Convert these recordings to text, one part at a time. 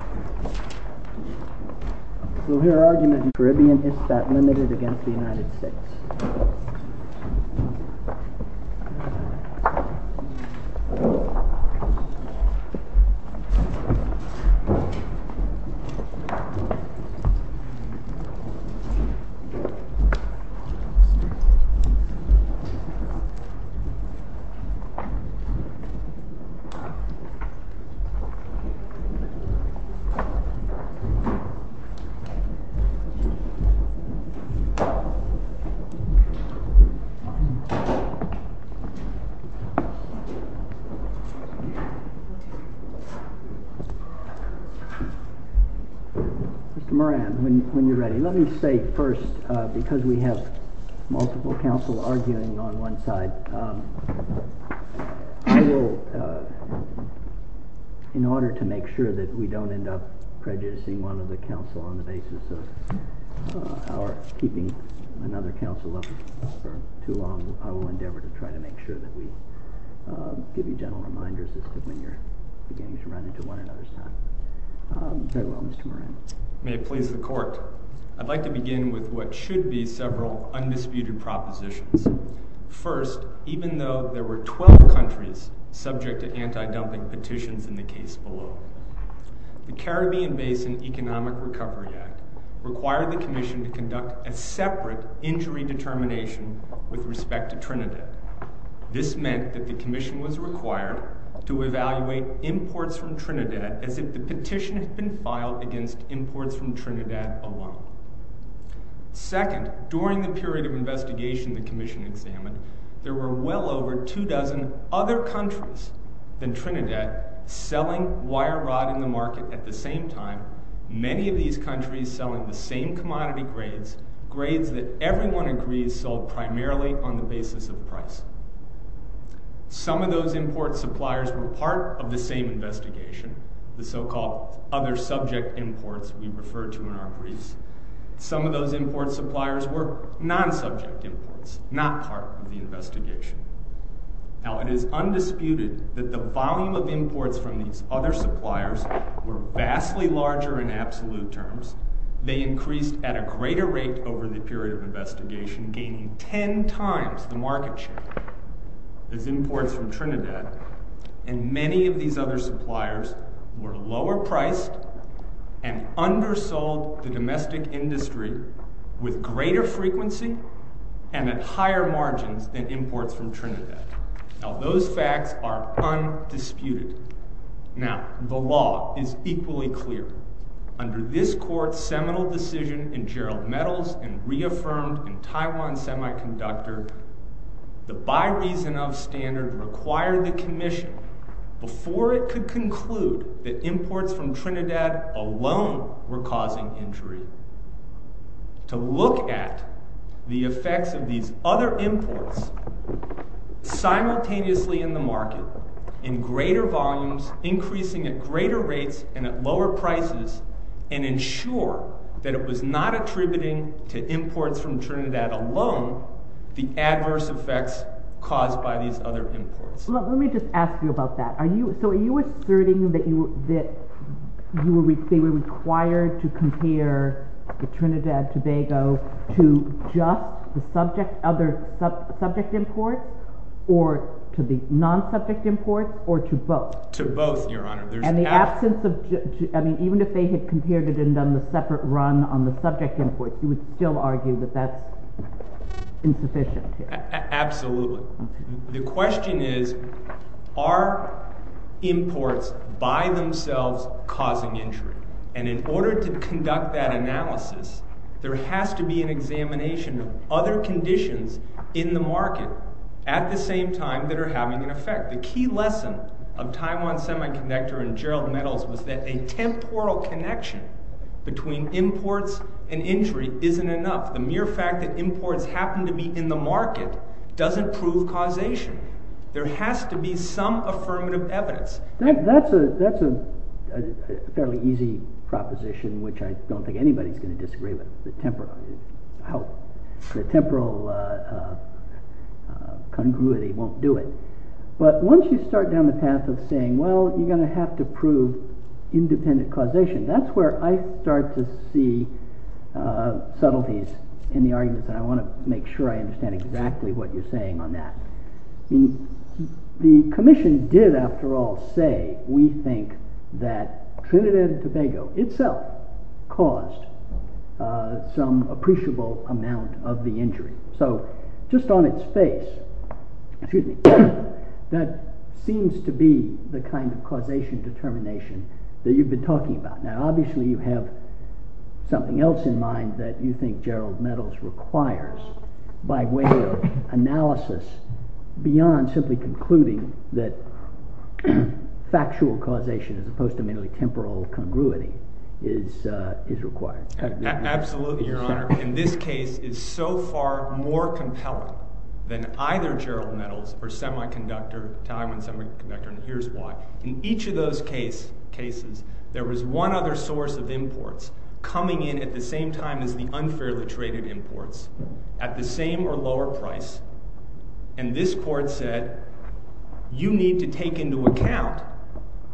So here are the Caribbean Ispat Limited v. United States Mr. Moran, when you're ready, let me say first, because we have multiple counsel arguing on one side, I will, in order to make sure that we don't end up prejudicing one of the counsel on the basis of our keeping another counsel up for too long, I will endeavor to try to make sure that we give you gentle reminders as to when you're beginning to run into one another's time. Very well, Mr. Moran. May it please the Court, I'd like to begin with what should be several undisputed propositions. First, even though there were 12 countries subject to anti-dumping petitions in the case below, the Caribbean Basin Economic Recovery Act required the Commission to conduct a separate injury determination with respect to Trinidad. This meant that the Commission was required to evaluate imports from Trinidad as if the petition had been filed against imports from Trinidad alone. Second, during the period of investigation the Commission examined, there were well over two dozen other countries than Trinidad selling wire rod in the market at the same time, many of these countries selling the same commodity grades, grades that everyone agrees sold primarily on the basis of price. Some of those import suppliers were part of the same investigation, the so-called other subject imports we refer to in our briefs. Some of those import suppliers were non-subject imports, not part of the investigation. Now it is undisputed that the volume of imports from these other suppliers were vastly larger in absolute terms. They increased at a greater rate over the period of investigation, gaining ten times the market share as imports from Trinidad. And many of these other suppliers were lower priced and undersold the domestic industry with greater frequency and at higher margins than imports from Trinidad. Now those facts are undisputed. Now, the law is equally clear. Under this Court's seminal decision in Gerald Metal's and reaffirmed in Taiwan's semiconductor, the by reason of standard required the commission, before it could conclude that imports from Trinidad alone were causing injury, to look at the effects of these other imports simultaneously in the market in greater volumes, increasing at greater rates and at higher margins. So, the adverse effects caused by these other imports. Let me just ask you about that. So, are you asserting that they were required to compare the Trinidad-Tobago to just the other subject imports or to the non-subject imports or to both? To both, Your Honor. And the absence of, I mean, even if they had compared it and done the separate run on the insufficient. Absolutely. The question is, are imports by themselves causing injury? And in order to conduct that analysis, there has to be an examination of other conditions in the market at the same time that are having an effect. The key lesson of Taiwan's semiconductor and Gerald Metal's was that a temporal connection between imports and injury isn't enough. The mere fact that imports happen to be in the market doesn't prove causation. There has to be some affirmative evidence. That's a fairly easy proposition, which I don't think anybody's going to disagree with. The temporal congruity won't do it. But once you start down the path of saying, well, you're going to have to prove independent causation, that's where I start to see subtleties in the argument. And I want to make sure I understand exactly what you're saying on that. The commission did, after all, say we think that Trinidad and Tobago itself caused some appreciable amount of the injury. So just on its face, that seems to be the kind of causation determination that you've been talking about. Now, obviously, you have something else in mind that you think Gerald Metal's requires by way of analysis beyond simply concluding that factual causation as opposed to merely temporal congruity is required. Absolutely, Your Honor. In this case, it's so far more compelling than either Gerald Metal's or Taiwan's semiconductor and here's why. In each of those cases, there was one other source of imports coming in at the same time as the unfairly traded imports at the same or lower price. And this court said, you need to take into account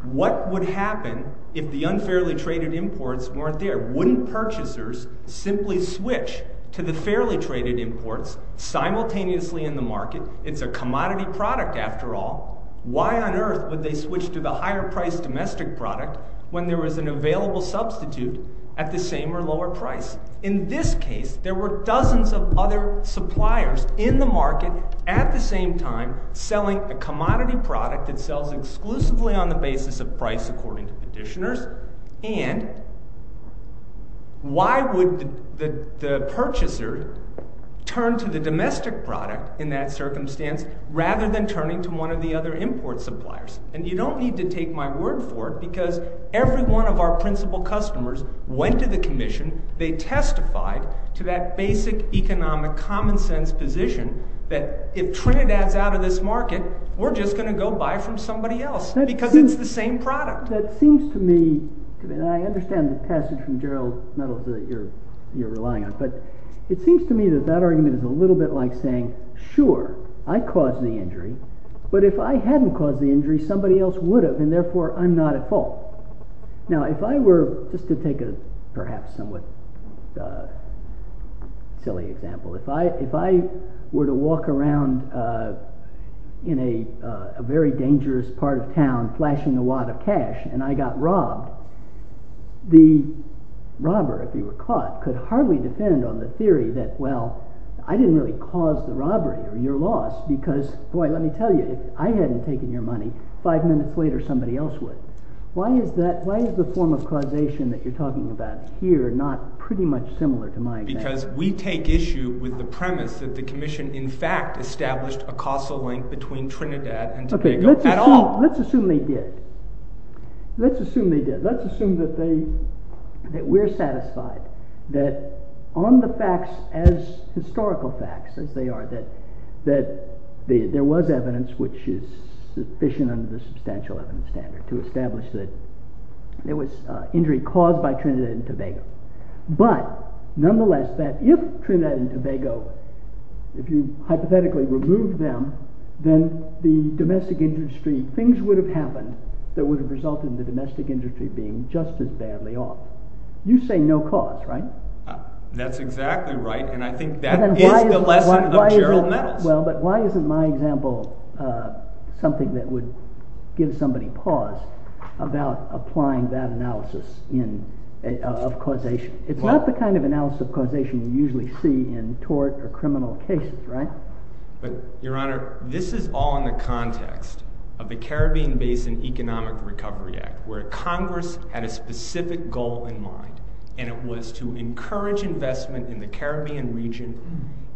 what would happen if the unfairly traded imports weren't there. Wouldn't purchasers simply switch to the fairly traded imports simultaneously in the market? It's a commodity product, after all. Why on earth would they switch to the higher priced domestic product when there was an available substitute at the same or lower price? In this case, there were dozens of other suppliers in the market at the same time selling a commodity product that sells exclusively on the basis of price according to petitioners. And why would the purchaser turn to the domestic product in that circumstance rather than turning to one of the other import suppliers? And you don't need to take my word for it because every one of our principal customers went to the commission, they testified to that basic economic common sense position that if Trinidad's out of this market, we're just going to go buy from somebody else because it's the same product. That seems to me, and I understand the passage from Gerald Metal that you're relying on, but it seems to me that that argument is a little bit like saying, sure, I caused the injury, but if I hadn't caused the injury, somebody else would have, and therefore, I'm not at fault. Now, if I were, just to take a perhaps somewhat silly example, if I were to walk around in a very dangerous part of town flashing a wad of cash and I got robbed, the robber, if he were caught, could hardly defend on the theory that, well, I didn't really cause the robbery or your loss because, boy, let me tell you, if I hadn't taken your money, five minutes later, somebody else would. Why is the form of causation that you're talking about here not pretty much similar to my example? Because we take issue with the premise that the commission, in fact, established a causal link between Trinidad and Tobago at all. Let's assume they did. Let's assume they did. Let's assume that we're satisfied that on the facts, as historical facts as they are, that there was evidence which is sufficient under the substantial evidence standard to establish that there was injury caused by Trinidad and Tobago, but nonetheless, that if Trinidad and Tobago, if you hypothetically removed them, then the domestic industry, things would have happened that would have resulted in the domestic industry being just as badly off. You say no cause, right? That's exactly right, and I think that is the lesson of Gerald Nettles. Well, but why isn't my example something that would give somebody pause about applying that analysis of causation? It's not the kind of analysis of causation you usually see in tort or criminal cases, right? But, Your Honor, this is all in the context of the Caribbean Basin Economic Recovery Act, where Congress had a specific goal in mind, and it was to encourage investment in the Caribbean region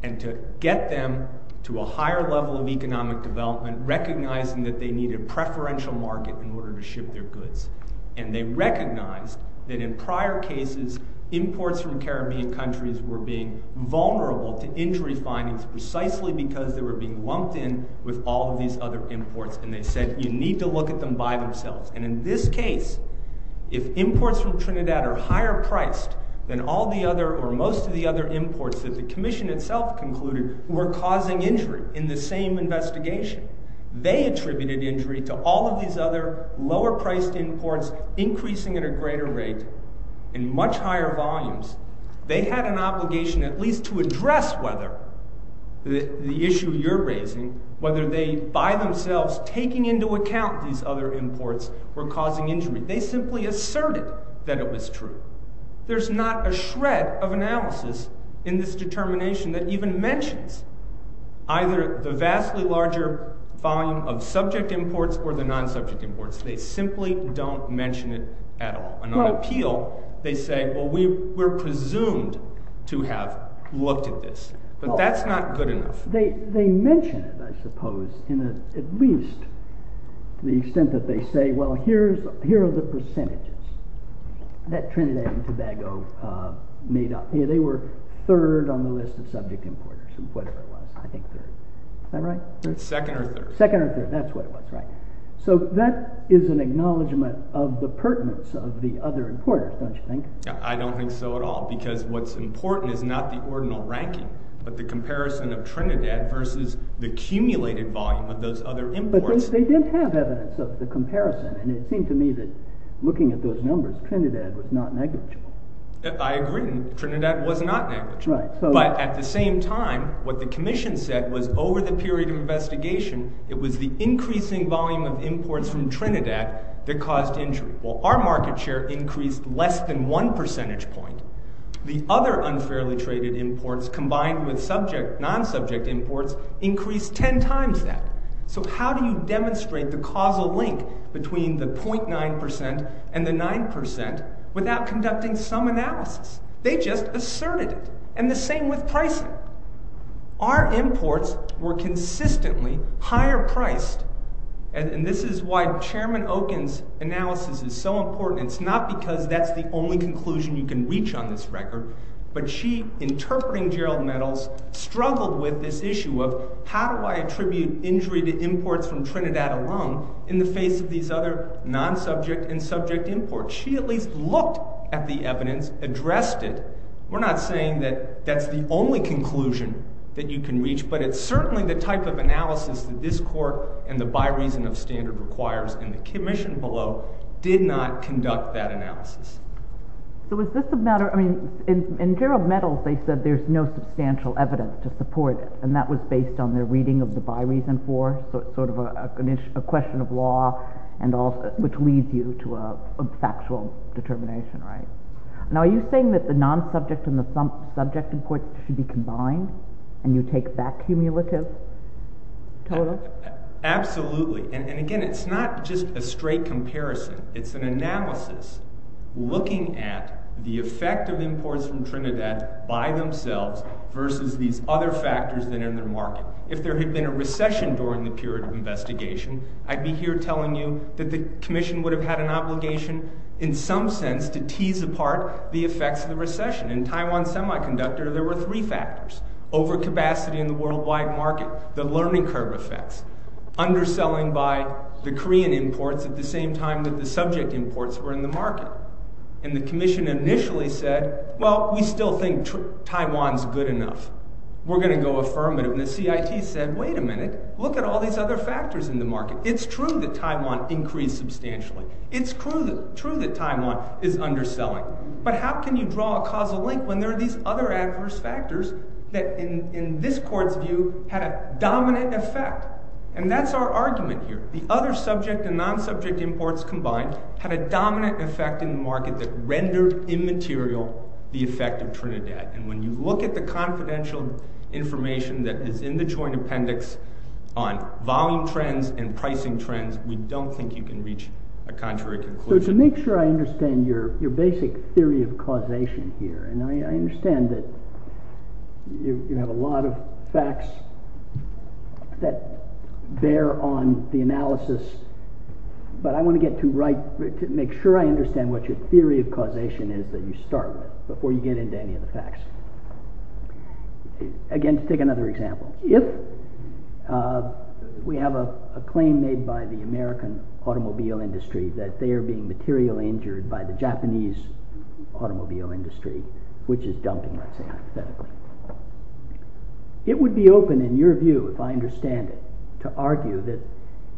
and to get them to a higher level of economic development, recognizing that they needed preferential market in order to ship their goods. And they recognized that in prior cases, imports from Caribbean countries were being vulnerable to injury findings precisely because they were being lumped in with all of these other imports, and they said, you need to look at them by themselves. And in this case, if imports from Trinidad are higher-priced than all the other or most of the other imports that the Commission itself concluded were causing injury in the same investigation, they attributed injury to all of these other lower-priced imports increasing at a greater rate in much higher volumes. They had an obligation at least to address whether the issue you're raising, whether they, by themselves, taking into account these other imports, were causing injury. They simply asserted that it was true. There's not a shred of analysis in this determination that even mentions either the vastly larger volume of subject imports or the non-subject imports. They simply don't mention it at all. And on appeal, they say, well, we're presumed to have looked at this. But that's not good enough. They mention it, I suppose, in at least the extent that they say, well, here are the percentages that Trinidad and Tobago made up. They were third on the list of subject importers, or whatever it was. I think third. Is that right? Second or third. Second or third. That's what it was, right. So that is an acknowledgment of the pertinence of the other importers, don't you think? I don't think so at all, because what's important is not the ordinal ranking, but the Trinidad versus the cumulated volume of those other imports. But they did have evidence of the comparison. And it seemed to me that looking at those numbers, Trinidad was not negligible. I agree. Trinidad was not negligible. Right. But at the same time, what the commission said was over the period of investigation, it was the increasing volume of imports from Trinidad that caused injury. Well, our market share increased less than one percentage point. The other unfairly traded imports, combined with subject, non-subject imports, increased ten times that. So how do you demonstrate the causal link between the .9 percent and the 9 percent without conducting some analysis? They just asserted it. And the same with pricing. Our imports were consistently higher priced. And this is why Chairman Okun's analysis is so important. And it's not because that's the only conclusion you can reach on this record, but she, interpreting Gerald Meadows, struggled with this issue of, how do I attribute injury to imports from Trinidad alone, in the face of these other non-subject and subject imports? She at least looked at the evidence, addressed it. We're not saying that that's the only conclusion that you can reach, but it's certainly the type of analysis that this Court, and the by reason of standard requires in the commission below, did not conduct that analysis. So is this a matter, I mean, in Gerald Meadows they said there's no substantial evidence to support it, and that was based on their reading of the by reason for, sort of a question of law, which leads you to a factual determination, right? Now are you saying that the non-subject and the subject imports should be combined, and you take that cumulative total? Absolutely. And again, it's not just a straight comparison, it's an analysis, looking at the effect of imports from Trinidad by themselves, versus these other factors that are in the market. If there had been a recession during the period of investigation, I'd be here telling you that the commission would have had an obligation, in some sense, to tease apart the effects of the recession. In Taiwan Semiconductor, there were three factors. Overcapacity in the worldwide market, the learning curve effects, underselling by the Korean imports at the same time that the subject imports were in the market. And the commission initially said, well, we still think Taiwan's good enough. We're going to go affirmative, and the CIT said, wait a minute, look at all these other factors in the market. It's true that Taiwan increased substantially. It's true that Taiwan is underselling. But how can you draw a causal link when there are these other adverse factors that, in this court's view, had a dominant effect? And that's our argument here. The other subject and non-subject imports combined had a dominant effect in the market that rendered immaterial the effect of Trinidad. And when you look at the confidential information that is in the joint appendix on volume trends and pricing trends, we don't think you can reach a contrary conclusion. So to make sure I understand your basic theory of causation here, and I understand that you have a lot of facts that bear on the analysis, but I want to make sure I understand what your theory of causation is that you start with before you get into any of the facts. Again, to take another example, if we have a claim made by the American automobile industry that they are being materially injured by the Japanese automobile industry, which is dumping, let's say, hypothetically, it would be open, in your view, if I understand it, to argue that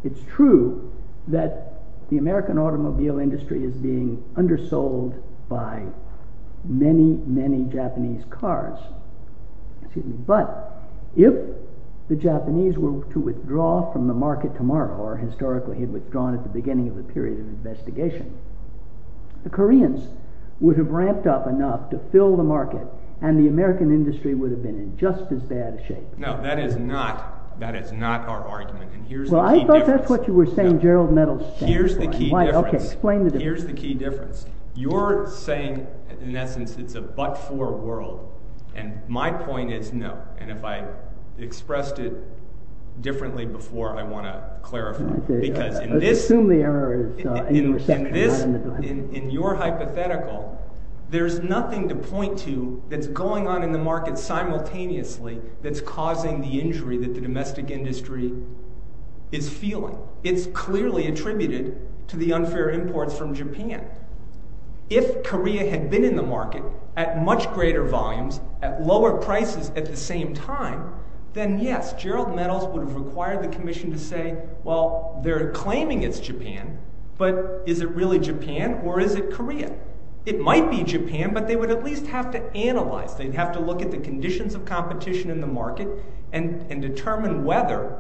it's true that the American automobile industry is being undersold by many, many Japanese cars. But if the Japanese were to withdraw from the market tomorrow, or historically had withdrawn at the beginning of the period of investigation, the Koreans would have ramped up enough to fill the market and the American industry would have been in just as bad a shape. No, that is not our argument, and here's the key difference. Well, I thought that's what you were saying Gerald Meadows stands for. Here's the key difference. You're saying, in essence, it's a but-for world, and my point is, no. And if I expressed it differently before, I want to clarify. Because in this, in your hypothetical, there's nothing to point to that's going on in the market simultaneously that's causing the injury that the domestic industry is feeling. It's clearly attributed to the unfair imports from Japan. If Korea had been in the market at much greater volumes, at lower prices at the same time, then yes, Gerald Meadows would have required the Commission to say, well, they're claiming it's Japan, but is it really Japan or is it Korea? It might be Japan, but they would at least have to analyze. They'd have to look at the conditions of competition in the market and determine whether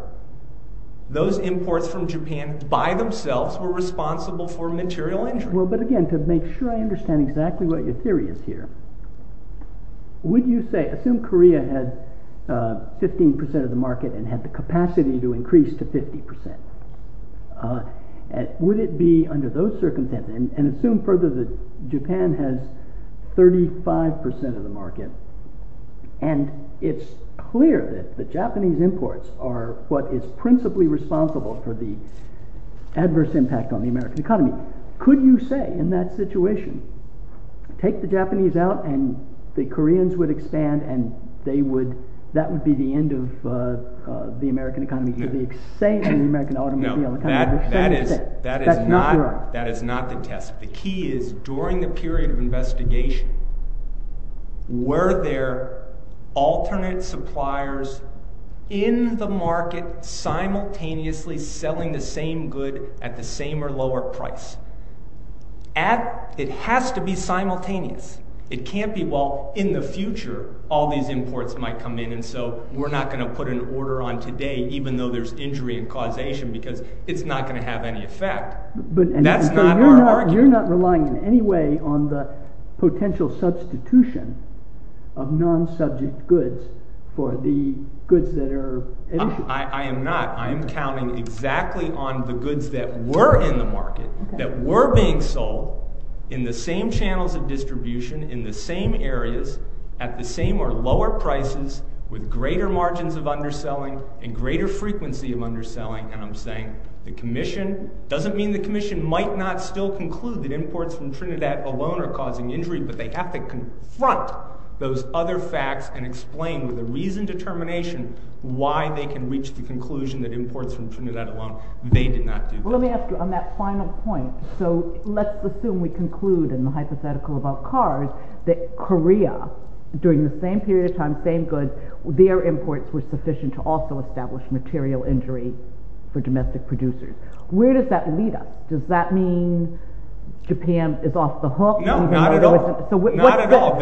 those imports from Japan by themselves were responsible for material injury. Well, but again, to make sure I understand exactly what your theory is here, would you say, assume Korea had 15% of the market and had the capacity to increase to 50%, would it be under those circumstances, and assume further that Japan has 35% of the market, and it's clear that the Japanese imports are what is principally responsible for the adverse impact on the American economy, could you say in that situation, take the Japanese out and the Koreans would expand and that would be the end of the American economy? No, that is not the test. The key is, during the period of investigation, were there alternate suppliers in the market simultaneously selling the same good at the same or lower price? It has to be simultaneous. It can't be, well, in the future, all these imports might come in and so we're not going to put an order on today even though there's injury and causation because it's not going to have any effect. That's not our argument. But you're not relying in any way on the potential substitution of non-subject goods for the goods that are... I am not. I am counting exactly on the goods that were in the market, that were being sold in the same channels of distribution, in the same areas, at the same or lower prices, with greater margins of underselling and greater frequency of underselling and I'm saying the Commission, doesn't mean the Commission might not still conclude that imports from Trinidad alone are causing injury, but they have to confront those other facts and explain with a reasoned determination they did not do that. Let me ask you, on that final point, so let's assume we conclude in the hypothetical about cars that Korea, during the same period of time, same goods, their imports were sufficient to also establish material injury for domestic producers. Where does that lead us? Does that mean Japan is off the hook? No, not at all.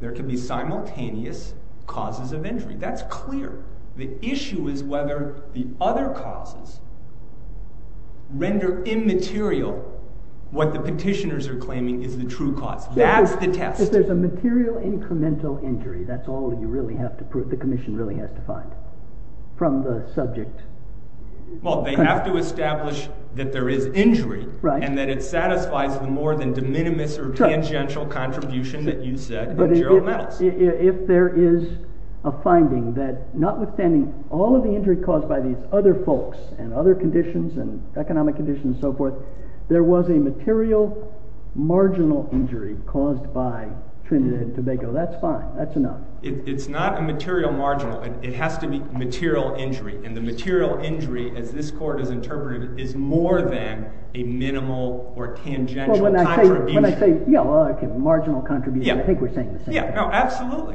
There can be simultaneous causes of injury. That's clear. The issue is whether the other causes render immaterial what the petitioners are claiming is the true cause. That's the test. If there's a material incremental injury, that's all you really have to prove, the Commission really has to find. From the subject. Well, they have to establish that there is injury and that it satisfies the more than de minimis or tangential contribution that you said from Gerald Meadows. If there is a finding that notwithstanding all of the injury caused by these other folks and other conditions, economic conditions and so forth, there was a material marginal injury caused by Trinidad and Tobago, that's fine, that's enough. It's not a material marginal. It has to be material injury. And the material injury, as this Court has interpreted it, is more than a minimal or tangential contribution. When I say marginal contribution, I think we're saying the same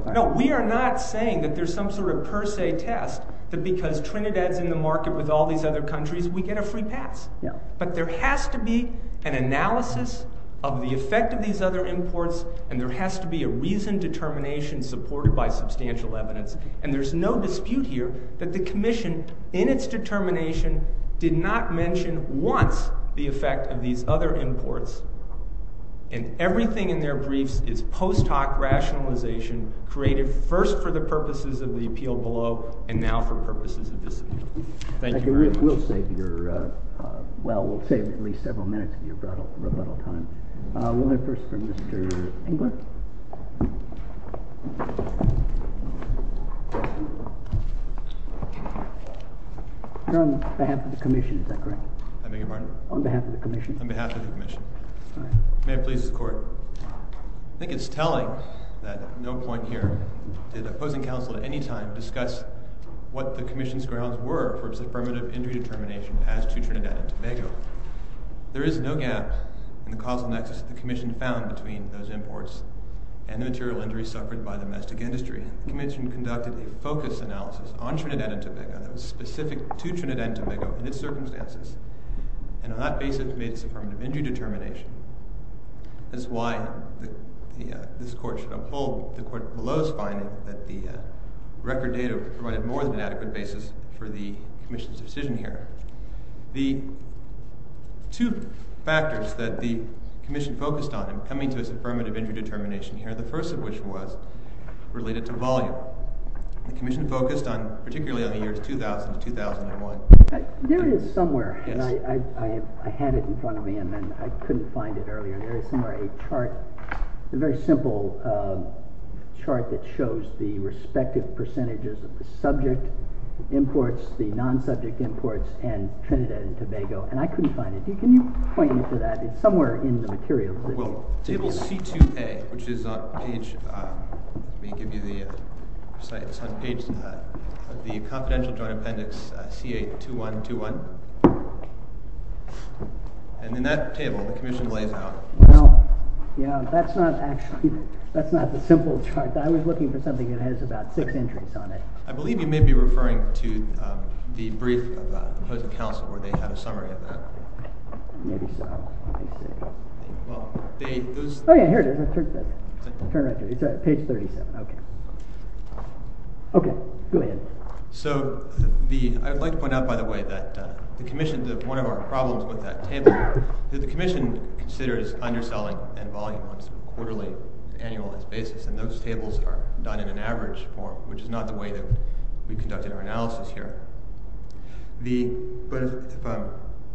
thing. We are not saying that there's some sort of per se test that because Trinidad's in the market with all these other countries, we get a free pass. But there has to be an analysis of the effect of these other imports and there has to be a reasoned determination supported by substantial evidence. And there's no dispute here that the Commission, in its determination, did not mention once the effect of these other imports. And everything in their briefs is post-hoc rationalization created first for the purposes of the appeal below and now for purposes of this appeal. Thank you very much. We'll save at least several minutes of your rebuttal time. We'll hear first from Mr. Englund. You're on behalf of the Commission, is that correct? I beg your pardon? On behalf of the Commission. May it please the Court. I think it's telling that no point here did opposing counsel at any time discuss what the Commission's grounds were for its affirmative injury determination passed to Trinidad and Tobago. There is no gap in the causal nexus that the Commission found between those imports and the material injuries suffered by the domestic industry. The Commission conducted a focus analysis on Trinidad and Tobago that was specific to Trinidad and Tobago in its circumstances. And on that basis, it made its affirmative injury determination. That's why this Court should uphold the Court below's finding that the record data provided more than an adequate basis for the Commission's decision here. The two factors that the Commission focused on in coming to its affirmative injury determination here, the first of which was related to volume. The Commission focused on, particularly on the years 2000 to 2001. There it is somewhere. I had it in front of me, and I couldn't find it earlier. There is somewhere a chart, a very simple chart that shows the respective percentages of the subject imports, the non-subject imports, and Trinidad and Tobago, and I couldn't find it. Can you point me to that? It's somewhere in the materials. Table C2A, which is on page... 2-1-2-1. And in that table, the Commission lays out... Yeah, that's not actually... That's not the simple chart. I was looking for something that has about six entries on it. I believe you may be referring to the brief of the Housing Council where they have a summary of that. Maybe so. Oh yeah, here it is. Turn right here. Page 37. Okay, go ahead. So, I'd like to point out, by the way, that one of our problems with that table is that the Commission considers underselling and volume on a quarterly, annual basis, and those tables are done in an average form, which is not the way that we conducted our analysis here. But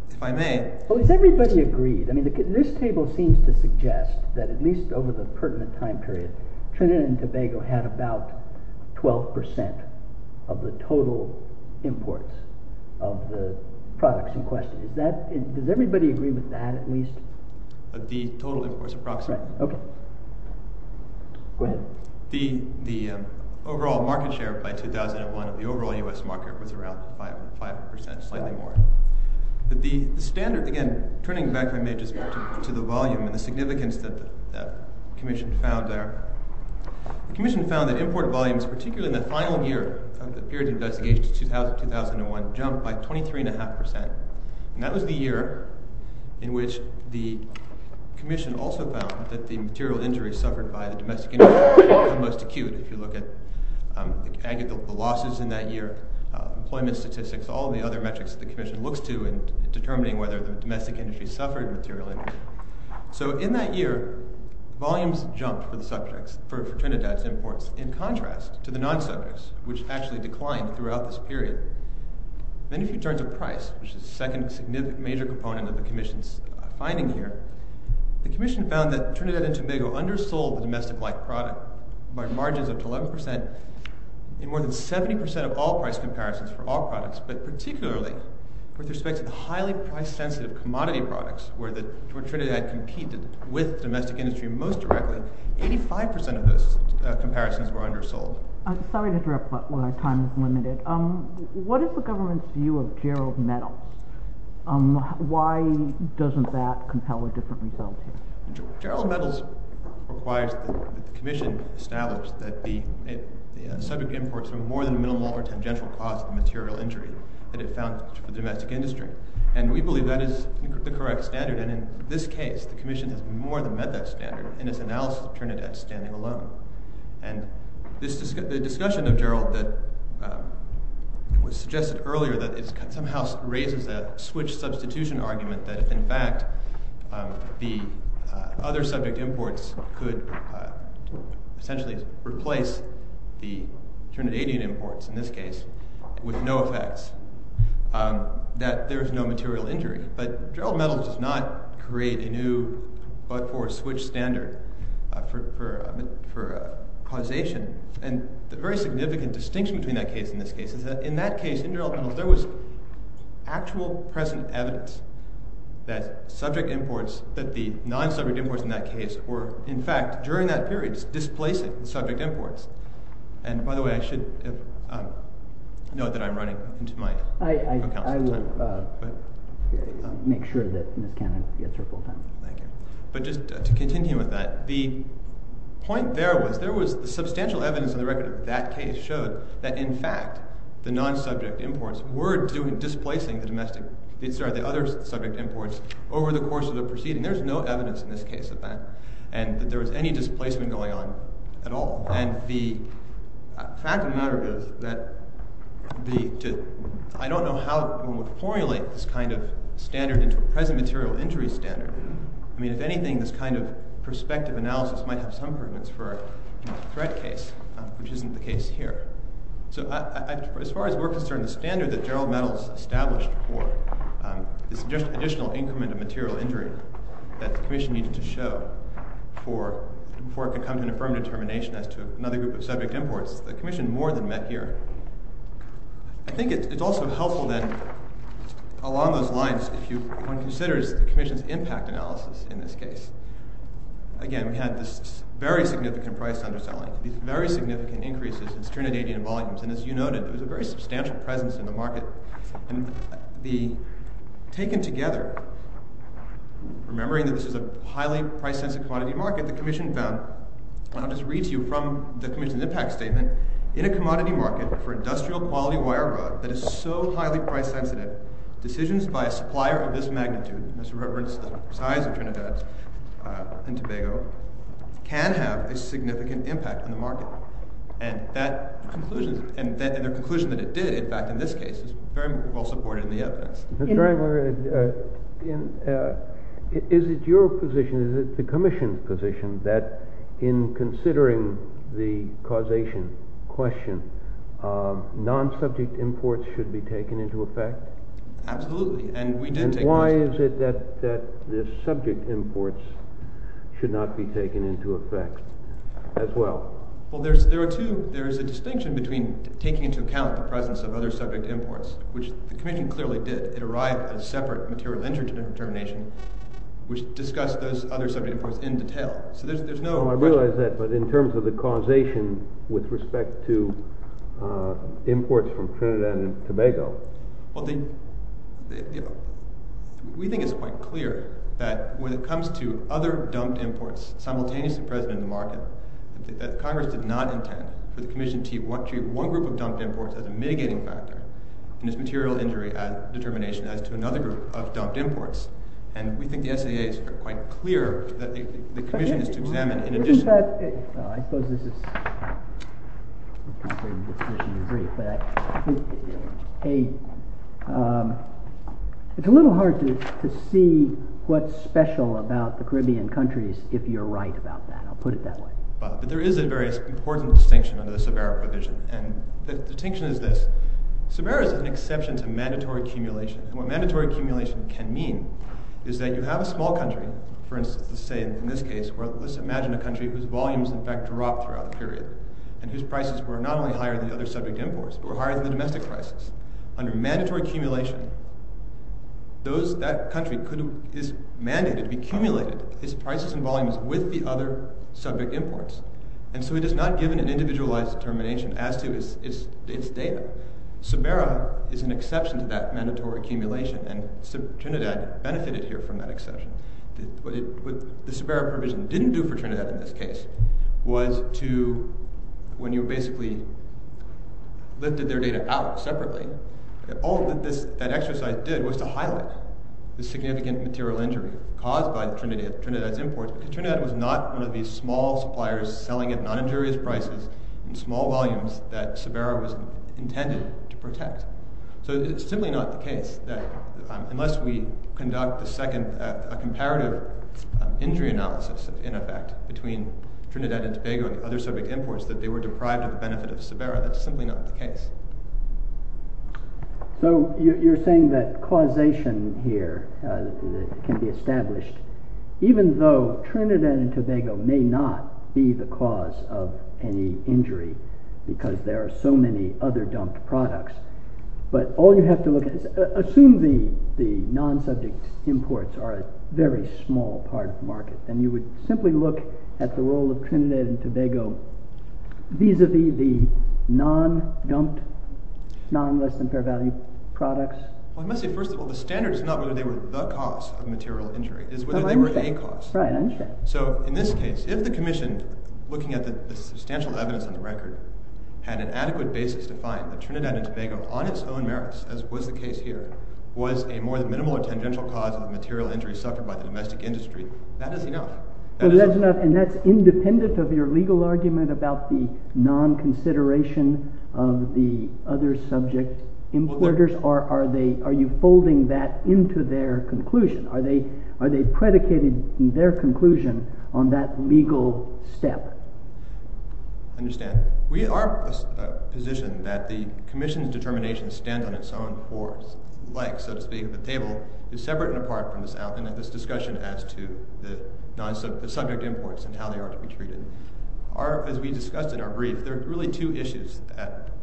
if I may... Has everybody agreed? This table seems to suggest that at least over the pertinent time period, Trinidad and Tobago had about 12% of the total imports of the products in question. Does everybody agree with that? At least? Of the total imports approximately. Go ahead. The overall market share by 2001 of the overall U.S. market was around 5%, slightly more. But the standard... Again, turning back, if I may, to the volume and the significance that the Commission found there, the Commission found that import volumes particularly in the final year of the period of investigation, 2001, jumped by 23.5%. And that was the year in which the Commission also found that the material injuries suffered by the domestic industry were the most acute. If you look at the losses in that year, employment statistics, all the other metrics that the Commission looks to in determining whether the domestic industry suffered material injuries. So, in that year, volumes jumped for the subjects, for Trinidad's imports, in contrast to the non-subjects, which actually declined throughout this period. Then if you turn to price, which is the second significant major component of the Commission's finding here, the Commission found that Trinidad and Tobago undersold the domestic-like product by margins up to 11% and more than 70% of all price comparisons for all products, but particularly with respect to the highly price-sensitive commodity products, where Trinidad competed with domestic industry most directly, 85% of those comparisons were undersold. I'm sorry to interrupt, but my time is limited. What is the government's view of Gerald Metals? Why doesn't that compel a different result here? Gerald Metals requires that the Commission establish that the subject imports from more than a minimal or tangential cause of material injury that it found to the domestic industry. And we believe that is the correct standard, and in this case the Commission has more than met that standard in its analysis of Trinidad standing alone. And the discussion of Gerald was suggested earlier that it somehow raises that switch substitution argument that in fact the other subject imports could essentially replace the Trinidadian imports in this case with no effects that there is no material injury. But Gerald Metals does not create a new but-for-switch standard for causation. And the very significant distinction between that case and this case is that in that case, in Gerald Metals, there was actual present evidence that subject imports, that the non-subject imports in that case were in fact during that period displacing the subject imports. And by the way, I should note that I'm running into my account at the time. I will make sure that Ms. Cannon gets her full time. Thank you. But just to continue with that, the point there was, there was substantial evidence on the record that that case showed that in fact, the non-subject imports were displacing the domestic sorry, the other subject imports over the course of the proceeding. There's no evidence in this case of that, and that there was any displacement going on at all. And the fact of the matter is that I don't know how one would formulate this kind of standard into a present material injury standard. I mean, if anything, this kind of perspective analysis might have some prudence for a threat case, which isn't the case here. As far as we're concerned, the standard that Gerald Metals established for this additional increment of material injury that the commission needed to show before it could come to an affirmed determination as to another group of subject imports, the commission more than met here. I think it's also helpful then along those lines, if one considers the commission's impact analysis in this case. Again, we had this very significant price underselling, these very significant increases in Trinidadian volumes, and as you noted there was a very substantial presence in the market and the taken together remembering that this is a highly price-sensitive commodity market, the commission found and I'll just read to you from the commission's impact statement, in a commodity market for industrial-quality wire rod that is so highly price-sensitive, decisions by a supplier of this magnitude, as a reference to the size of Trinidad and Tobago, can have a significant impact on the market. And the conclusion that it did, in fact, in this case, is very well supported in the evidence. Is it your position, is it the commission's position, that in considering the causation question, non-subject imports should be taken into effect? Absolutely, and we did take those And why is it that the subject imports should not be taken into effect as well? Well, there's a distinction between taking into account the presence of other subject imports, which the commission clearly did, it arrived at a separate material interdetermination which discussed those other subject imports in detail. So there's no... I realize that, but in terms of the causation with respect to imports from Trinidad and Tobago... We think it's quite clear that when it comes to other dumped imports simultaneously present in the market, that Congress did not intend for the commission to treat one group of dumped imports as a mitigating factor in its material injury determination as to another group of dumped imports. And we think the SAA is quite clear that the commission is to examine in addition... It's a little hard to see what's special about the Caribbean countries if you're right about that, I'll put it that way. But there is a very important distinction under the Sabera provision, and the distinction is this. Sabera is an exception to mandatory accumulation, and what mandatory accumulation can mean is that you have a small country, for instance, let's say in this case, let's imagine a country whose volumes in fact drop throughout a period, and whose prices were not only higher than the other subject imports, but were higher than the domestic prices. Under mandatory accumulation, that country could be cumulated, its prices and volumes, with the other subject imports. And so it is not given an individualized determination as to its data. Sabera is an exception to that mandatory accumulation, and Trinidad benefited here from that exception. What the Sabera provision didn't do for Trinidad in this case was to when you basically lifted their data out separately, all that exercise did was to highlight the significant material injury caused by Trinidad's imports, because Trinidad was not one of these small suppliers selling at non-injurious prices in small volumes that Sabera was intended to protect. So it's simply not the case that unless we conduct a second, a comparative injury analysis in effect between Trinidad and Tobago and other subject imports, that they were deprived of the benefit of Sabera, that's simply not the case. So you're saying that causation here can be established, even though Trinidad and Tobago may not be the cause of the injury, because there are so many other dumped products, but all you have to look at is assume the non-subject imports are a very small part of the market, and you would simply look at the role of Trinidad and Tobago vis-a-vis the non-dumped, non-less-than-fair-value products. I must say, first of all, the standard is not whether they were the cause of material injury, it's whether they were a cause. I understand. So in this case, if the commission, looking at the substantial evidence on the record, had an adequate basis to find that Trinidad and Tobago, on its own merits, as was the case here, was a more than minimal or tangential cause of the material injury suffered by the domestic industry, that is enough. And that's independent of your legal argument about the non-consideration of the other subject importers? Are you folding that into their conclusion? Are they predicated, in their conclusion, on that legal step? I understand. We are of the position that the commission's determination stands on its own for, like, so to speak, the table, is separate and apart from this discussion as to the subject imports and how they are to be treated. As we discussed in our brief, there are really two issues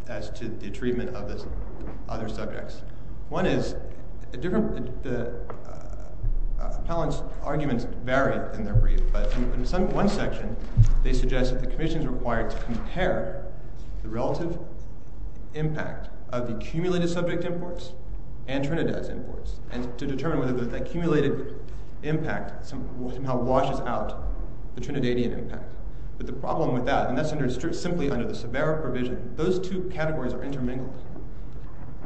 as to the treatment of the other subjects. One is, the appellant's in their brief, but in one section they suggest that the commission is required to compare the relative impact of the accumulated subject imports and Trinidad's imports, and to determine whether the accumulated impact somehow washes out the Trinidadian impact. But the problem with that, and that's understood simply under the Severa provision, those two categories are intermingled.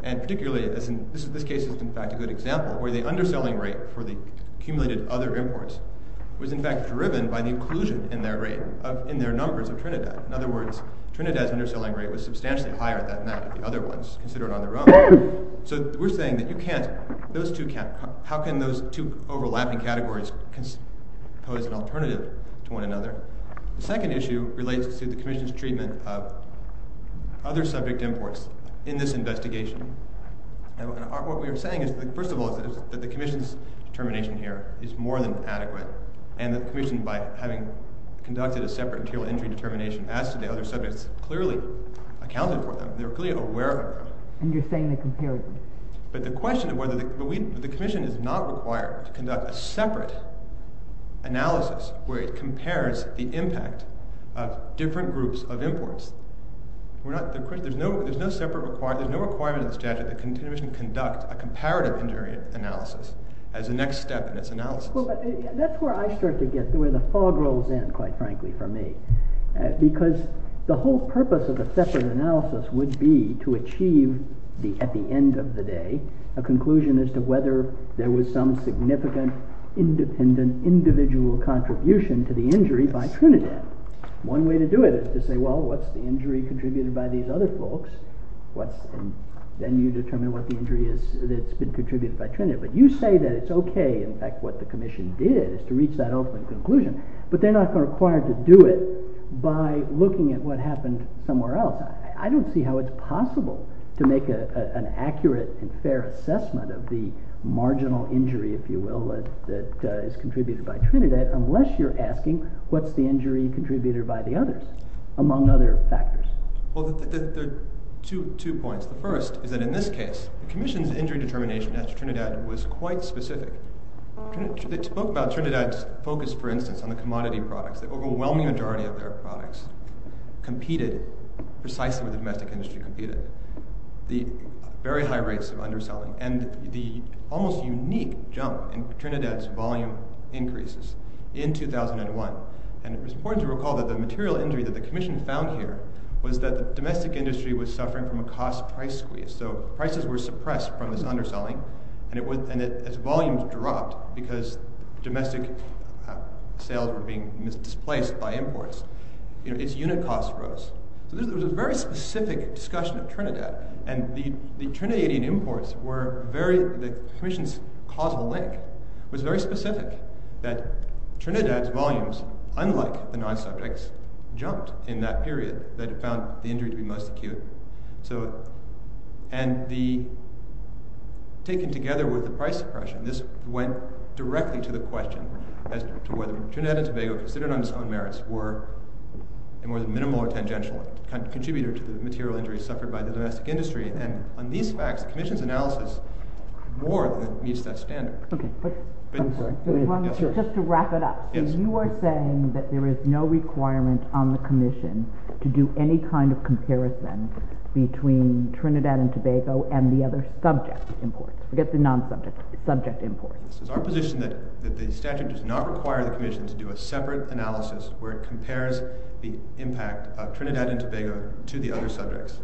And particularly, this case is in fact a good example, where the underselling rate for the commission was in fact driven by the inclusion in their numbers of Trinidad. In other words, Trinidad's underselling rate was substantially higher than that of the other ones, considered on their own. So we're saying that you can't, how can those two overlapping categories pose an alternative to one another? The second issue relates to the commission's treatment of other subject imports in this investigation. What we are saying is, first of all, that the commission's determination here is more than adequate. And the commission, by having conducted a separate material injury determination as to the other subjects, clearly accounted for them. They were clearly aware of them. And you're saying they compared them. But the question of whether the commission is not required to conduct a separate analysis where it compares the impact of different groups of imports. There's no separate requirement, there's no requirement in the statute that the commission conduct a comparative injury analysis as the next step in its analysis. That's where I start to get, where the fog rolls in, quite frankly, for me. Because the whole purpose of a separate analysis would be to achieve at the end of the day a conclusion as to whether there was some significant independent, individual contribution to the injury by Trinidad. One way to do it is to say, well, what's the injury contributed by these other folks? Then you determine what the injury is that's been contributed by Trinidad. But you say that it's okay, in fact, what the commission did is to reach that ultimate conclusion. But they're not required to do it by looking at what happened somewhere else. I don't see how it's possible to make an accurate and fair assessment of the marginal injury, if you will, that is contributed by Trinidad, unless you're asking what's the injury contributed by the others, among other factors. Well, there are two points. The first is that in this case the commission's injury determination at Trinidad was quite specific. The book about Trinidad's focus, for instance, on the commodity products, the overwhelming majority of their products competed precisely with the domestic industry. The very high rates of underselling and the almost unique jump in Trinidad's volume increases in 2001. And it's important to recall that the material injury that the commission found here was that the domestic industry was suffering from a cost-price squeeze. Prices were suppressed from this underselling and its volumes dropped because domestic sales were being displaced by imports. Its unit cost rose. There was a very specific discussion of Trinidad and the Trinidadian imports were the commission's causal link. It was very specific that Trinidad's volumes, unlike the non-subjects, jumped in that period that it found the injury to be most acute. And the taking together with the price suppression, this went directly to the question as to whether Trinidad and Tobago, considered on its own merits, were a more than minimal or tangential contributor to the material injuries suffered by the domestic industry. And on these facts, the commission's analysis more than meets that standard. Okay. I'm sorry. Just to wrap it up. You are saying that there is no requirement on the commission to do any kind of comparison between Trinidad and Tobago and the other subject imports. Forget the non-subjects. Subject imports. Is our position that the statute does not require the commission to do a separate analysis where it compares the impact of Trinidad and Tobago to the other subjects?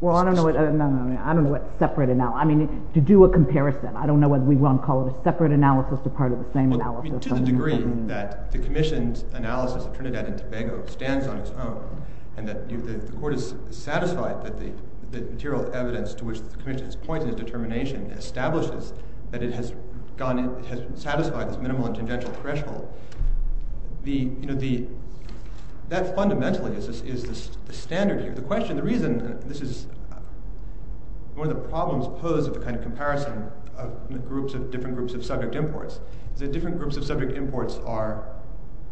Well, I don't know what separate... I mean, to do a comparison. I don't know what we want to call it. A separate analysis or part that the commission's analysis of Trinidad and Tobago stands on its own and that the court is satisfied that the material evidence to which the commission has pointed its determination establishes that it has satisfied its minimal and tangential threshold. That fundamentally is the standard here. The question, the reason, this is one of the problems posed at the kind of comparison of different groups of subject imports is that different groups of subject imports are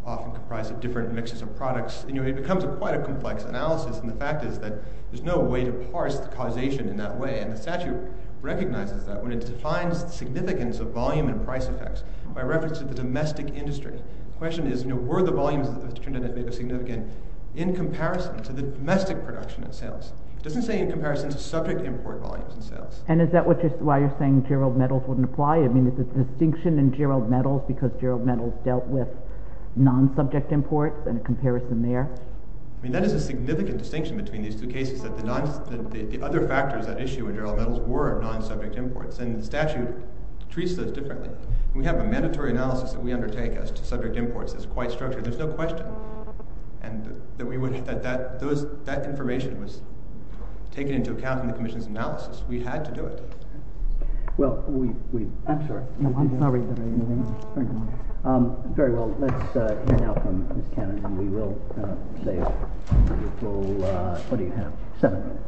often comprised of different mixes of products. It becomes quite a complex analysis, and the fact is that there's no way to parse the causation in that way, and the statute recognizes that when it defines the significance of volume and price effects by reference to the domestic industry. The question is were the volumes of Trinidad and Tobago significant in comparison to the domestic production and sales? It doesn't say in comparison to subject import volumes and sales. And is that why you're saying Gerald Meadows wouldn't apply? I mean, is the distinction in Gerald Meadows because Gerald Meadows dealt with non-subject imports and a comparison there? That is a significant distinction between these two cases that the other factors that issue in Gerald Meadows were non-subject imports and the statute treats those differently. We have a mandatory analysis that we undertake as to subject imports. It's quite structured. There's no question that that information was taken into account in the commission's analysis. We had to do it. Well, we I'm sorry. Very well. Let's hear now from Ms. Cannon and we will save your full seven minutes.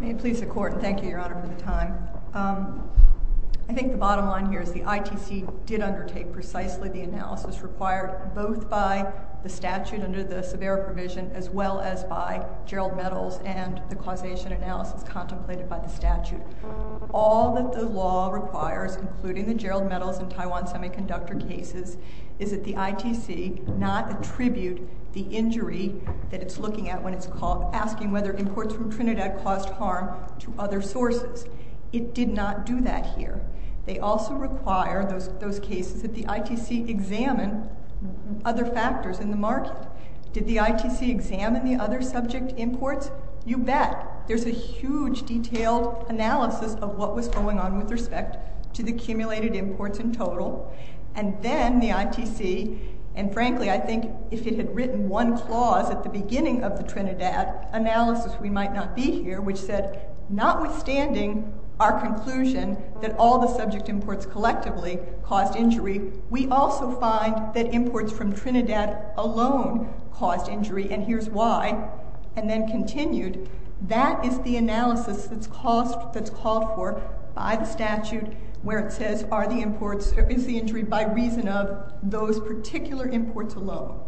May it please the Court. Thank you, Your Honor for the time. I think the bottom line here is the ITC did undertake precisely the analysis required both by the statute under the Severe Provision as well as by Gerald Meadows and the causation analysis contemplated by the statute. All that the law requires including the Gerald Meadows and Taiwan Semiconductor cases is that the ITC not attribute the injury that it's looking at when it's asking whether imports from Trinidad caused harm to other sources. It did not do that here. They also require those cases that the ITC examine other factors in the market. Did the ITC examine the other subject imports? You bet. There's a huge detailed analysis of what was going on with respect to the accumulated imports in total and then the ITC and frankly I think if it had written one clause at the beginning of the Trinidad analysis we might not be here which said notwithstanding our conclusion that all the subject imports collectively caused injury, we also find that imports from Trinidad alone caused injury and here's why and then continued that is the analysis that's called for by the statute where it says is the injury by reason of those particular imports alone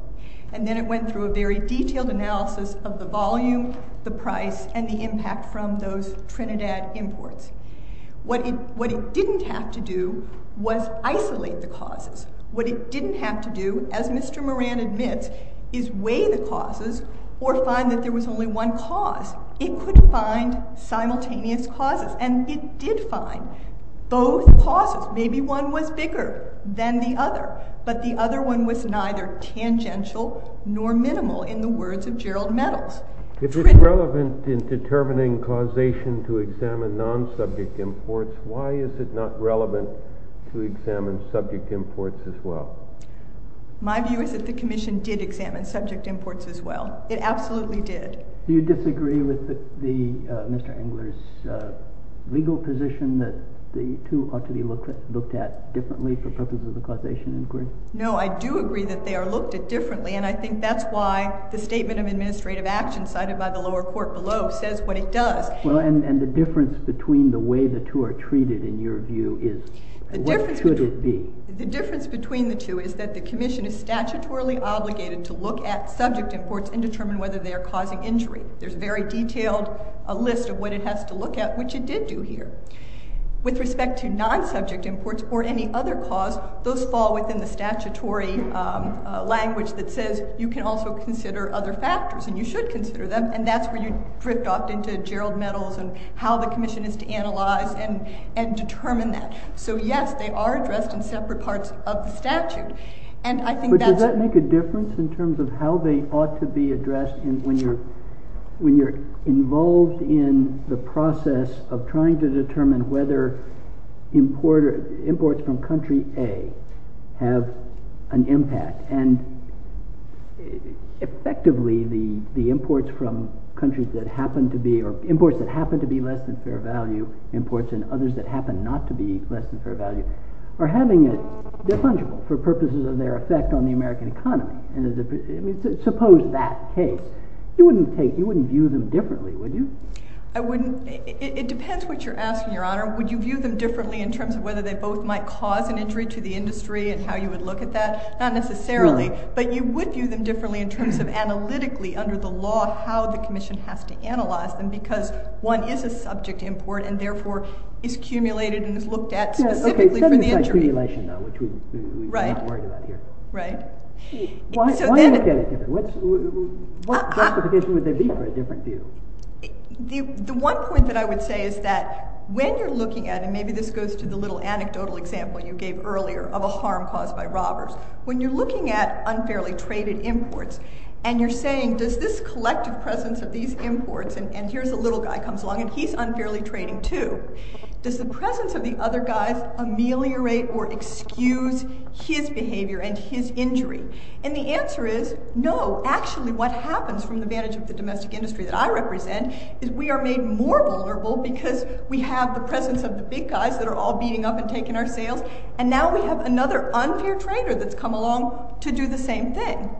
and then it went through a very detailed analysis of the volume the price and the impact from those Trinidad imports. What it didn't have to do was isolate the causes. What it didn't have to do as Mr. Moran admits is weigh the causes or find that there was only one cause. It couldn't find simultaneous causes and it did find both causes. Maybe one was bigger than the other but the other one was neither tangential nor minimal in the words of Gerald Meadows. If it's relevant in determining causation to examine non-subject imports, why is it not relevant to examine subject imports as well? My view is that the commission did examine subject imports as well. It absolutely did. Do you disagree with Mr. Engler's legal position that the two ought to be looked at differently for purposes of causation inquiry? No, I do agree that they are looked at differently and I think that's why the statement of administrative action cited by the lower court below says what it does. And the difference between the way the two are treated in your view is what should it be? The difference between the two is that the commission is statutorily obligated to look at subject imports and determine whether they are causing injury. There's a very detailed list of what it has to look at which it did do here. With respect to non-subject imports or any other cause, those fall within the statutory language that says you can also consider other factors and you should consider them and that's where you drift off into Gerald Mettles and how the commission is to analyze and determine that. So yes, they are addressed in separate parts of the statute. Does that make a difference in terms of how they ought to be addressed when you're involved in the process of trying to determine whether imports from country A have an impact and effectively the imports from countries that happen to be less than fair value imports and others that happen not to be less than fair value are having a for purposes of their effect on the American economy. Suppose that case. You wouldn't view them differently, would you? I wouldn't. It depends what you're asking, your honor. Would you view them differently in terms of whether they both might cause an injury to the industry and how you would look at that? Not necessarily, but you would view them differently in terms of analytically under the law how the commission has to analyze them because one is a subject import and therefore is cumulated and is looked at specifically for the injury. Right. Right. What justification would there be for a different view? The one point that I would say is that when you're looking at it, and maybe this goes to the little anecdotal example you gave earlier of a harm caused by robbers. When you're looking at unfairly traded imports, and you're saying does this collective presence of these imports and here's a little guy comes along and he's unfairly trading too. Does the presence of the other guys ameliorate or excuse his behavior and his injury? And the answer is no. Actually what happens from the vantage of the domestic industry that I represent is we are made more vulnerable because we have the presence of the big guys that are all beating up and taking our sales and now we have another unfair trader that's come along to do the same thing.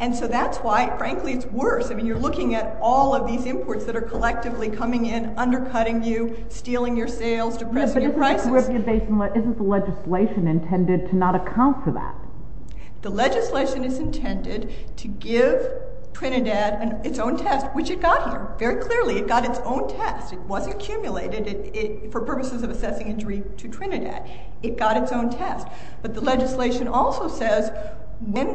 And so that's why frankly it's worse. I mean you're looking at all of these imports that are collectively coming in, undercutting you, stealing your sales, depressing your prices. Isn't the legislation intended to not account for that? The legislation is intended to give Trinidad its own test, which it got here. Very clearly it got its own test. It wasn't cumulated for purposes of it got its own test. But the legislation also says when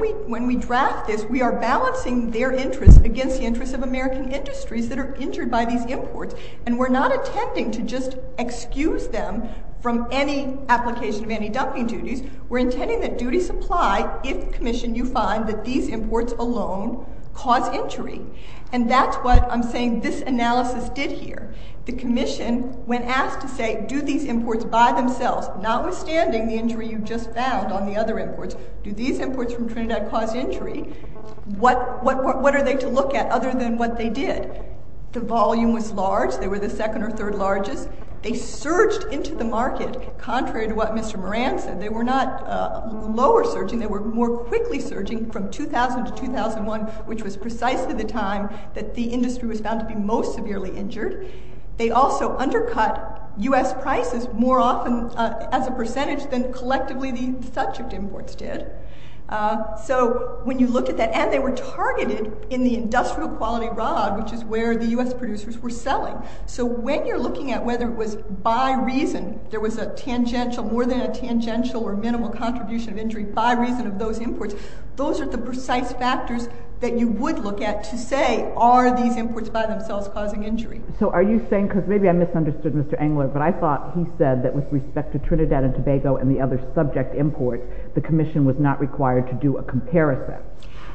we draft this we are balancing their interests against the interests of American industries that are injured by these imports and we're not intending to just excuse them from any application of any dumping duties. We're intending that duties apply if, commission, you find that these imports alone cause injury. And that's what I'm saying this analysis did here. The commission when asked to say do these imports from Trinidad cause injury? What are they to look at other than what they did? The volume was large. They were the second or third largest. They surged into the market contrary to what Mr. Moran said. They were not lower surging. They were more quickly surging from 2000 to 2001 which was precisely the time that the industry was found to be most severely injured. They also undercut U.S. prices more often as a percentage of the collectively the subject imports did. So when you look at that, and they were targeted in the industrial quality rod which is where the U.S. producers were selling. So when you're looking at whether it was by reason there was a tangential more than a tangential or minimal contribution of injury by reason of those imports those are the precise factors that you would look at to say are these imports by themselves causing injury. So are you saying, because maybe I misunderstood Mr. Engler, but I thought he said that with respect to Trinidad and Tobago and the other subject imports, the commission was not required to do a comparison.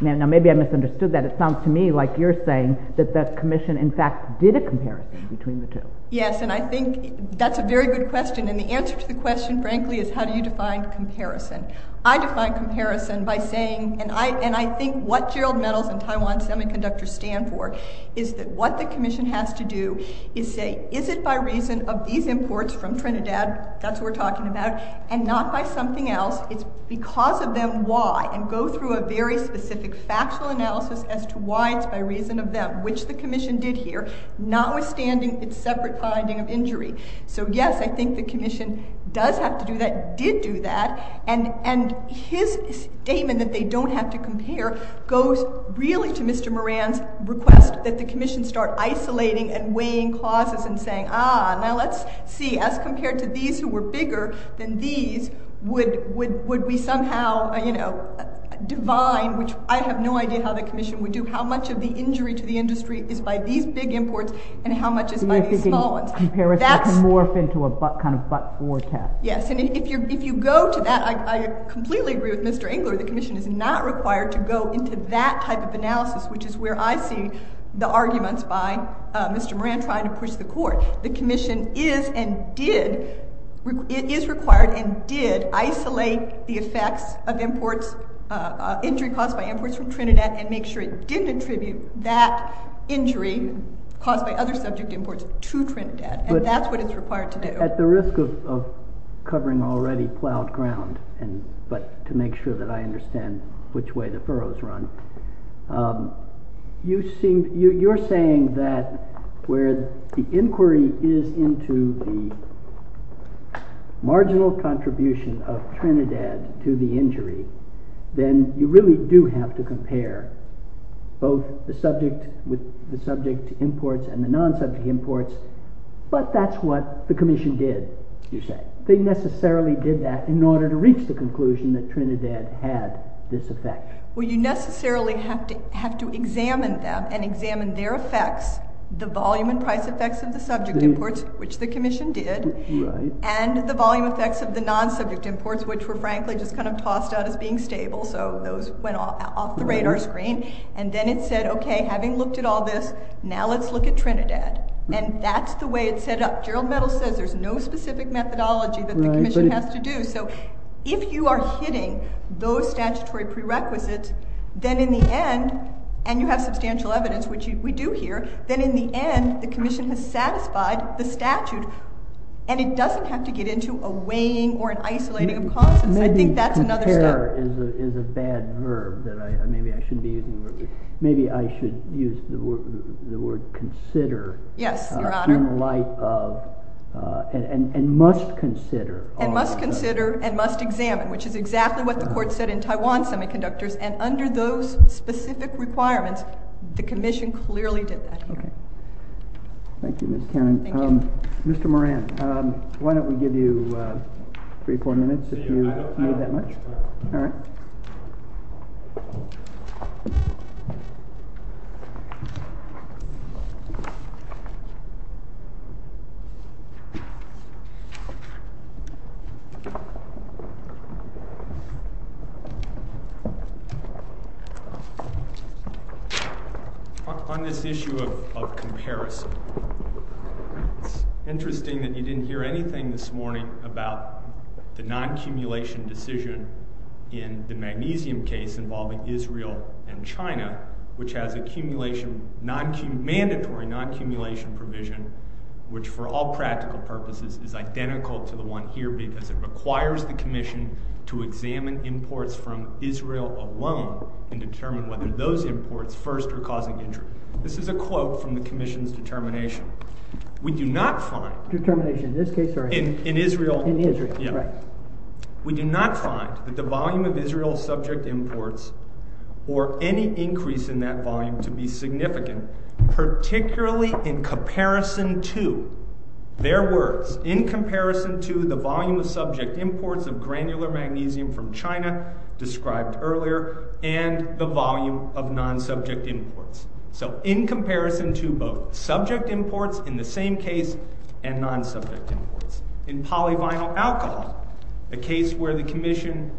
Now maybe I misunderstood that. It sounds to me like you're saying that the commission in fact did a comparison between the two. Yes, and I think that's a very good question and the answer to the question frankly is how do you define comparison. I define comparison by saying, and I think what Gerald Metals and Taiwan Semiconductor stand for is that what the commission has to do is say is it by reason of these imports from Trinidad that's what we're talking about, and not by something else. It's because of them why, and go through a very specific factual analysis as to why it's by reason of them, which the commission did here, notwithstanding its separate finding of injury. So yes, I think the commission does have to do that, did do that, and his statement that they don't have to compare goes really to Mr. Moran's request that the commission start isolating and weighing clauses and saying, ah now let's see, as compared to these who were bigger than these would we somehow divine, which I have no idea how the commission would do, how much of the injury to the industry is by these big imports and how much is by these small ones. Comparison can morph into a kind of but-for test. Yes, and if you go to that, I completely agree with Mr. Engler, the commission is not required to go into that type of analysis, which is where I see the arguments by Mr. Moran trying to push the court. The commission is and did, it is required and did isolate the effects of imports, injury caused by imports from Trinidad and make sure it didn't attribute that injury caused by other subject imports to Trinidad, and that's what it's required to do. At the risk of covering already plowed ground, but to make sure that I understand which way the furrows run. You're saying that where the inquiry is into the marginal contribution of Trinidad to the injury, then you really do have to compare both the subject with the subject imports and the non-subject imports, but that's what the commission did, you say. They necessarily did that in order to reach the conclusion that Trinidad had this effect. Well, you necessarily have to examine them and examine their effects, the volume and price effects of the subject imports, which the commission did, and the volume effects of the non-subject imports, which were frankly just kind of tossed out as being stable, so those went off the radar screen, and then it said, okay, having looked at all this, now let's look at Trinidad, and that's the way it's set up. Gerald Mettle says there's no specific methodology that the commission has to do, so if you are hitting those statutory prerequisites, then in the end, and you have substantial evidence, which we do here, then in the end, the commission has satisfied the statute, and it doesn't have to get into a weighing or an isolating of constants. I think that's another step. Maybe compare is a bad verb that maybe I shouldn't be using. Maybe I should use the word consider in light of and must consider. And must consider and must examine, which is exactly what the court said in Taiwan Semiconductors, and under those specific requirements, the commission clearly did that. Okay. Thank you, Ms. Cannon. Thank you. Mr. Moran, why don't we give you three or four minutes if you need that much. All right. On this issue of comparison, it's interesting that you didn't hear anything this morning about the non-cumulation decision in the magnesium case involving Israel and China, which has a cumulation mandatory non-cumulation provision, which for all practical purposes is identical to the one here because it requires the commission to examine imports from Israel alone and determine whether those imports first are causing injury. This is a quote from the commission's determination. We do not find... Determination in this case, sorry. In Israel. In Israel. Yeah. Right. We do not find that the volume of Israel subject imports or any increase in that volume to be significant, particularly in comparison to their words. In comparison to the volume of subject imports of granular magnesium from China described earlier, and the volume of non-subject imports. So in comparison to both subject imports, in the same case, and non-subject imports. In polyvinyl alcohol, a case where the commission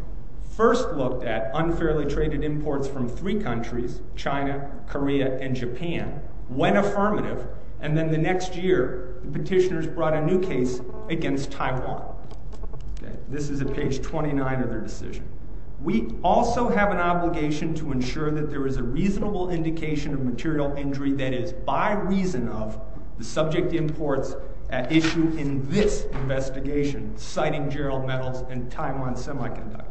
first looked at unfairly traded imports from three countries, China, Korea, and Japan, when affirmative, and then the next year the petitioners brought a new case against Taiwan. This is at page 29 of their decision. We also have an obligation to ensure that there is a reasonable indication of material injury that is by reason of the subject imports at issue in this investigation, citing Gerald Metals and Taiwan Semiconductor.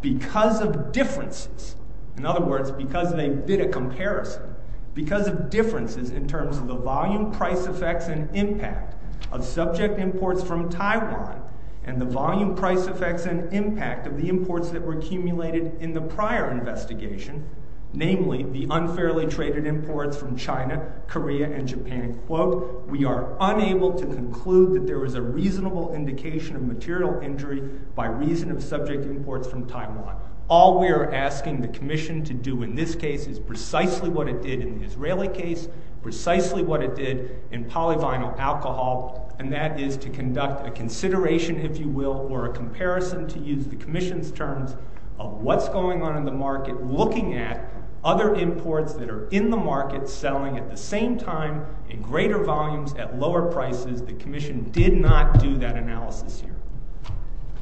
Because of differences, in other words, because they did a comparison, because of differences in terms of the volume, price effects, and impact of subject imports from Taiwan, and the volume, price effects, and impact of the imports that were accumulated in the prior investigation, namely the unfairly traded imports from China, Korea, and Japan, quote, we are unable to conclude that there is a reasonable indication of material injury by reason of subject imports from Taiwan. All we are asking the commission to do in this case is precisely what it did in the Israeli case, precisely what it did in polyvinyl alcohol, and that is to conduct a consideration, if you will, or a comparison, to use the commission's terms, of what's going on in the market looking at other imports that are in the market selling at the same time in greater volumes at lower prices. The commission did not do that analysis here.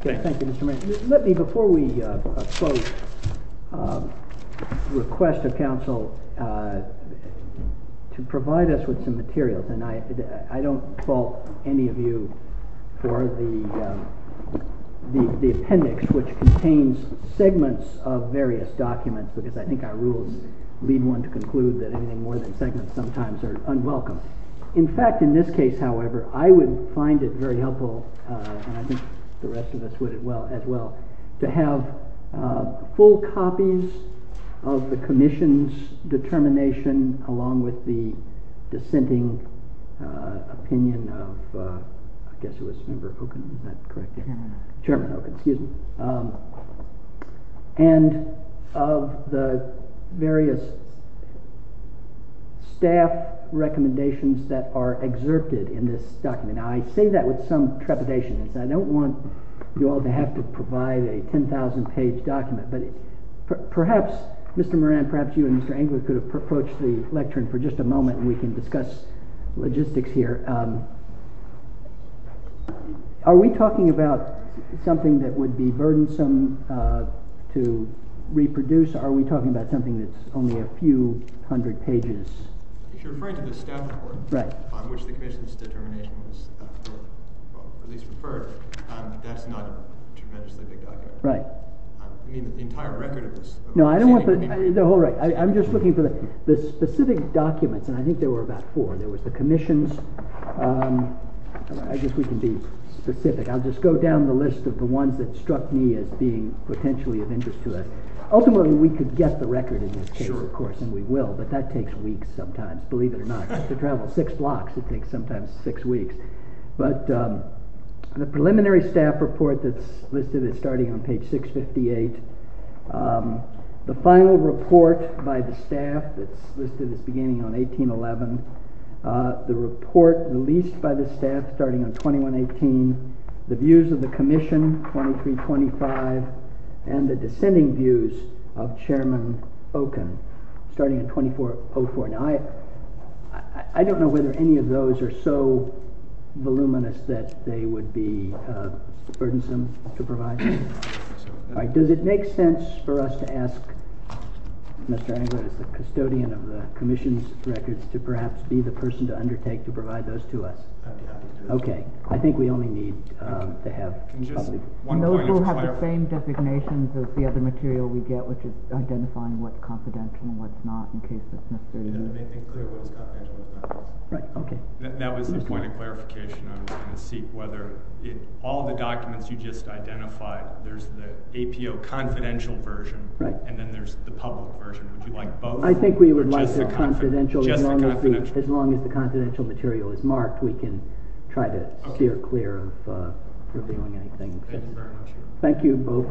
Thank you. Let me, before we close, request a council to provide us with some materials, and I don't fault any of you for the appendix which contains segments of various documents because I think our rules lead one to conclude that anything more than segments sometimes are unwelcome. In fact, in this case, however, I would find it very helpful, and I think the rest of us would as well, to have full copies of the commission's determination along with the dissenting opinion of, I guess it was member Okun, is that correct? Chairman Okun, excuse me. And of the various staff recommendations that are exerted in this document. I say that with some trepidation. I don't want you all to have to provide a 10,000 page document, but perhaps, Mr. Moran, perhaps you and Mr. Engler could approach the lectern for just a moment and we can discuss logistics here. Are we talking about something that would be burdensome to reproduce? Are we talking about something that's only a few hundred pages? You're referring to the staff report on which the commission's determination was at least referred. That's not a tremendously big document. I mean, the entire record is... I'm just looking for the specific documents, and I think there were about four. There was the commission's... I guess we can be specific. I'll just go down the list of the ones that struck me as being potentially of interest to us. Ultimately we could get the record in this case, of course, and we will, but that takes weeks sometimes, believe it or not, to travel six blocks. It takes sometimes six weeks. The preliminary staff report that's listed as starting on page 658, the final report by the staff that's listed as beginning on 1811, the report released by the staff starting on 2118, the views of the commission 2325, and the descending views of Chairman Okun starting on 2404. Now, I don't know whether any of those are so voluminous that they would be burdensome to provide. Does it make sense for us to ask Mr. Engler, as the custodian of the commission's records, to perhaps be the person to undertake to provide those to us? Okay. I think we only need to have... Those will have the same designations as the other material we get, which is identifying what's confidential and what's not, in case that's necessary. That was the point of clarification. I was going to see whether all the documents you just identified, there's the APO confidential version, and then there's the public version. Would you like both? I think we would like the confidential. As long as the confidential material is marked, we can try to steer clear of revealing anything. Thank you very much. Thank you both. Council, the case is submitted.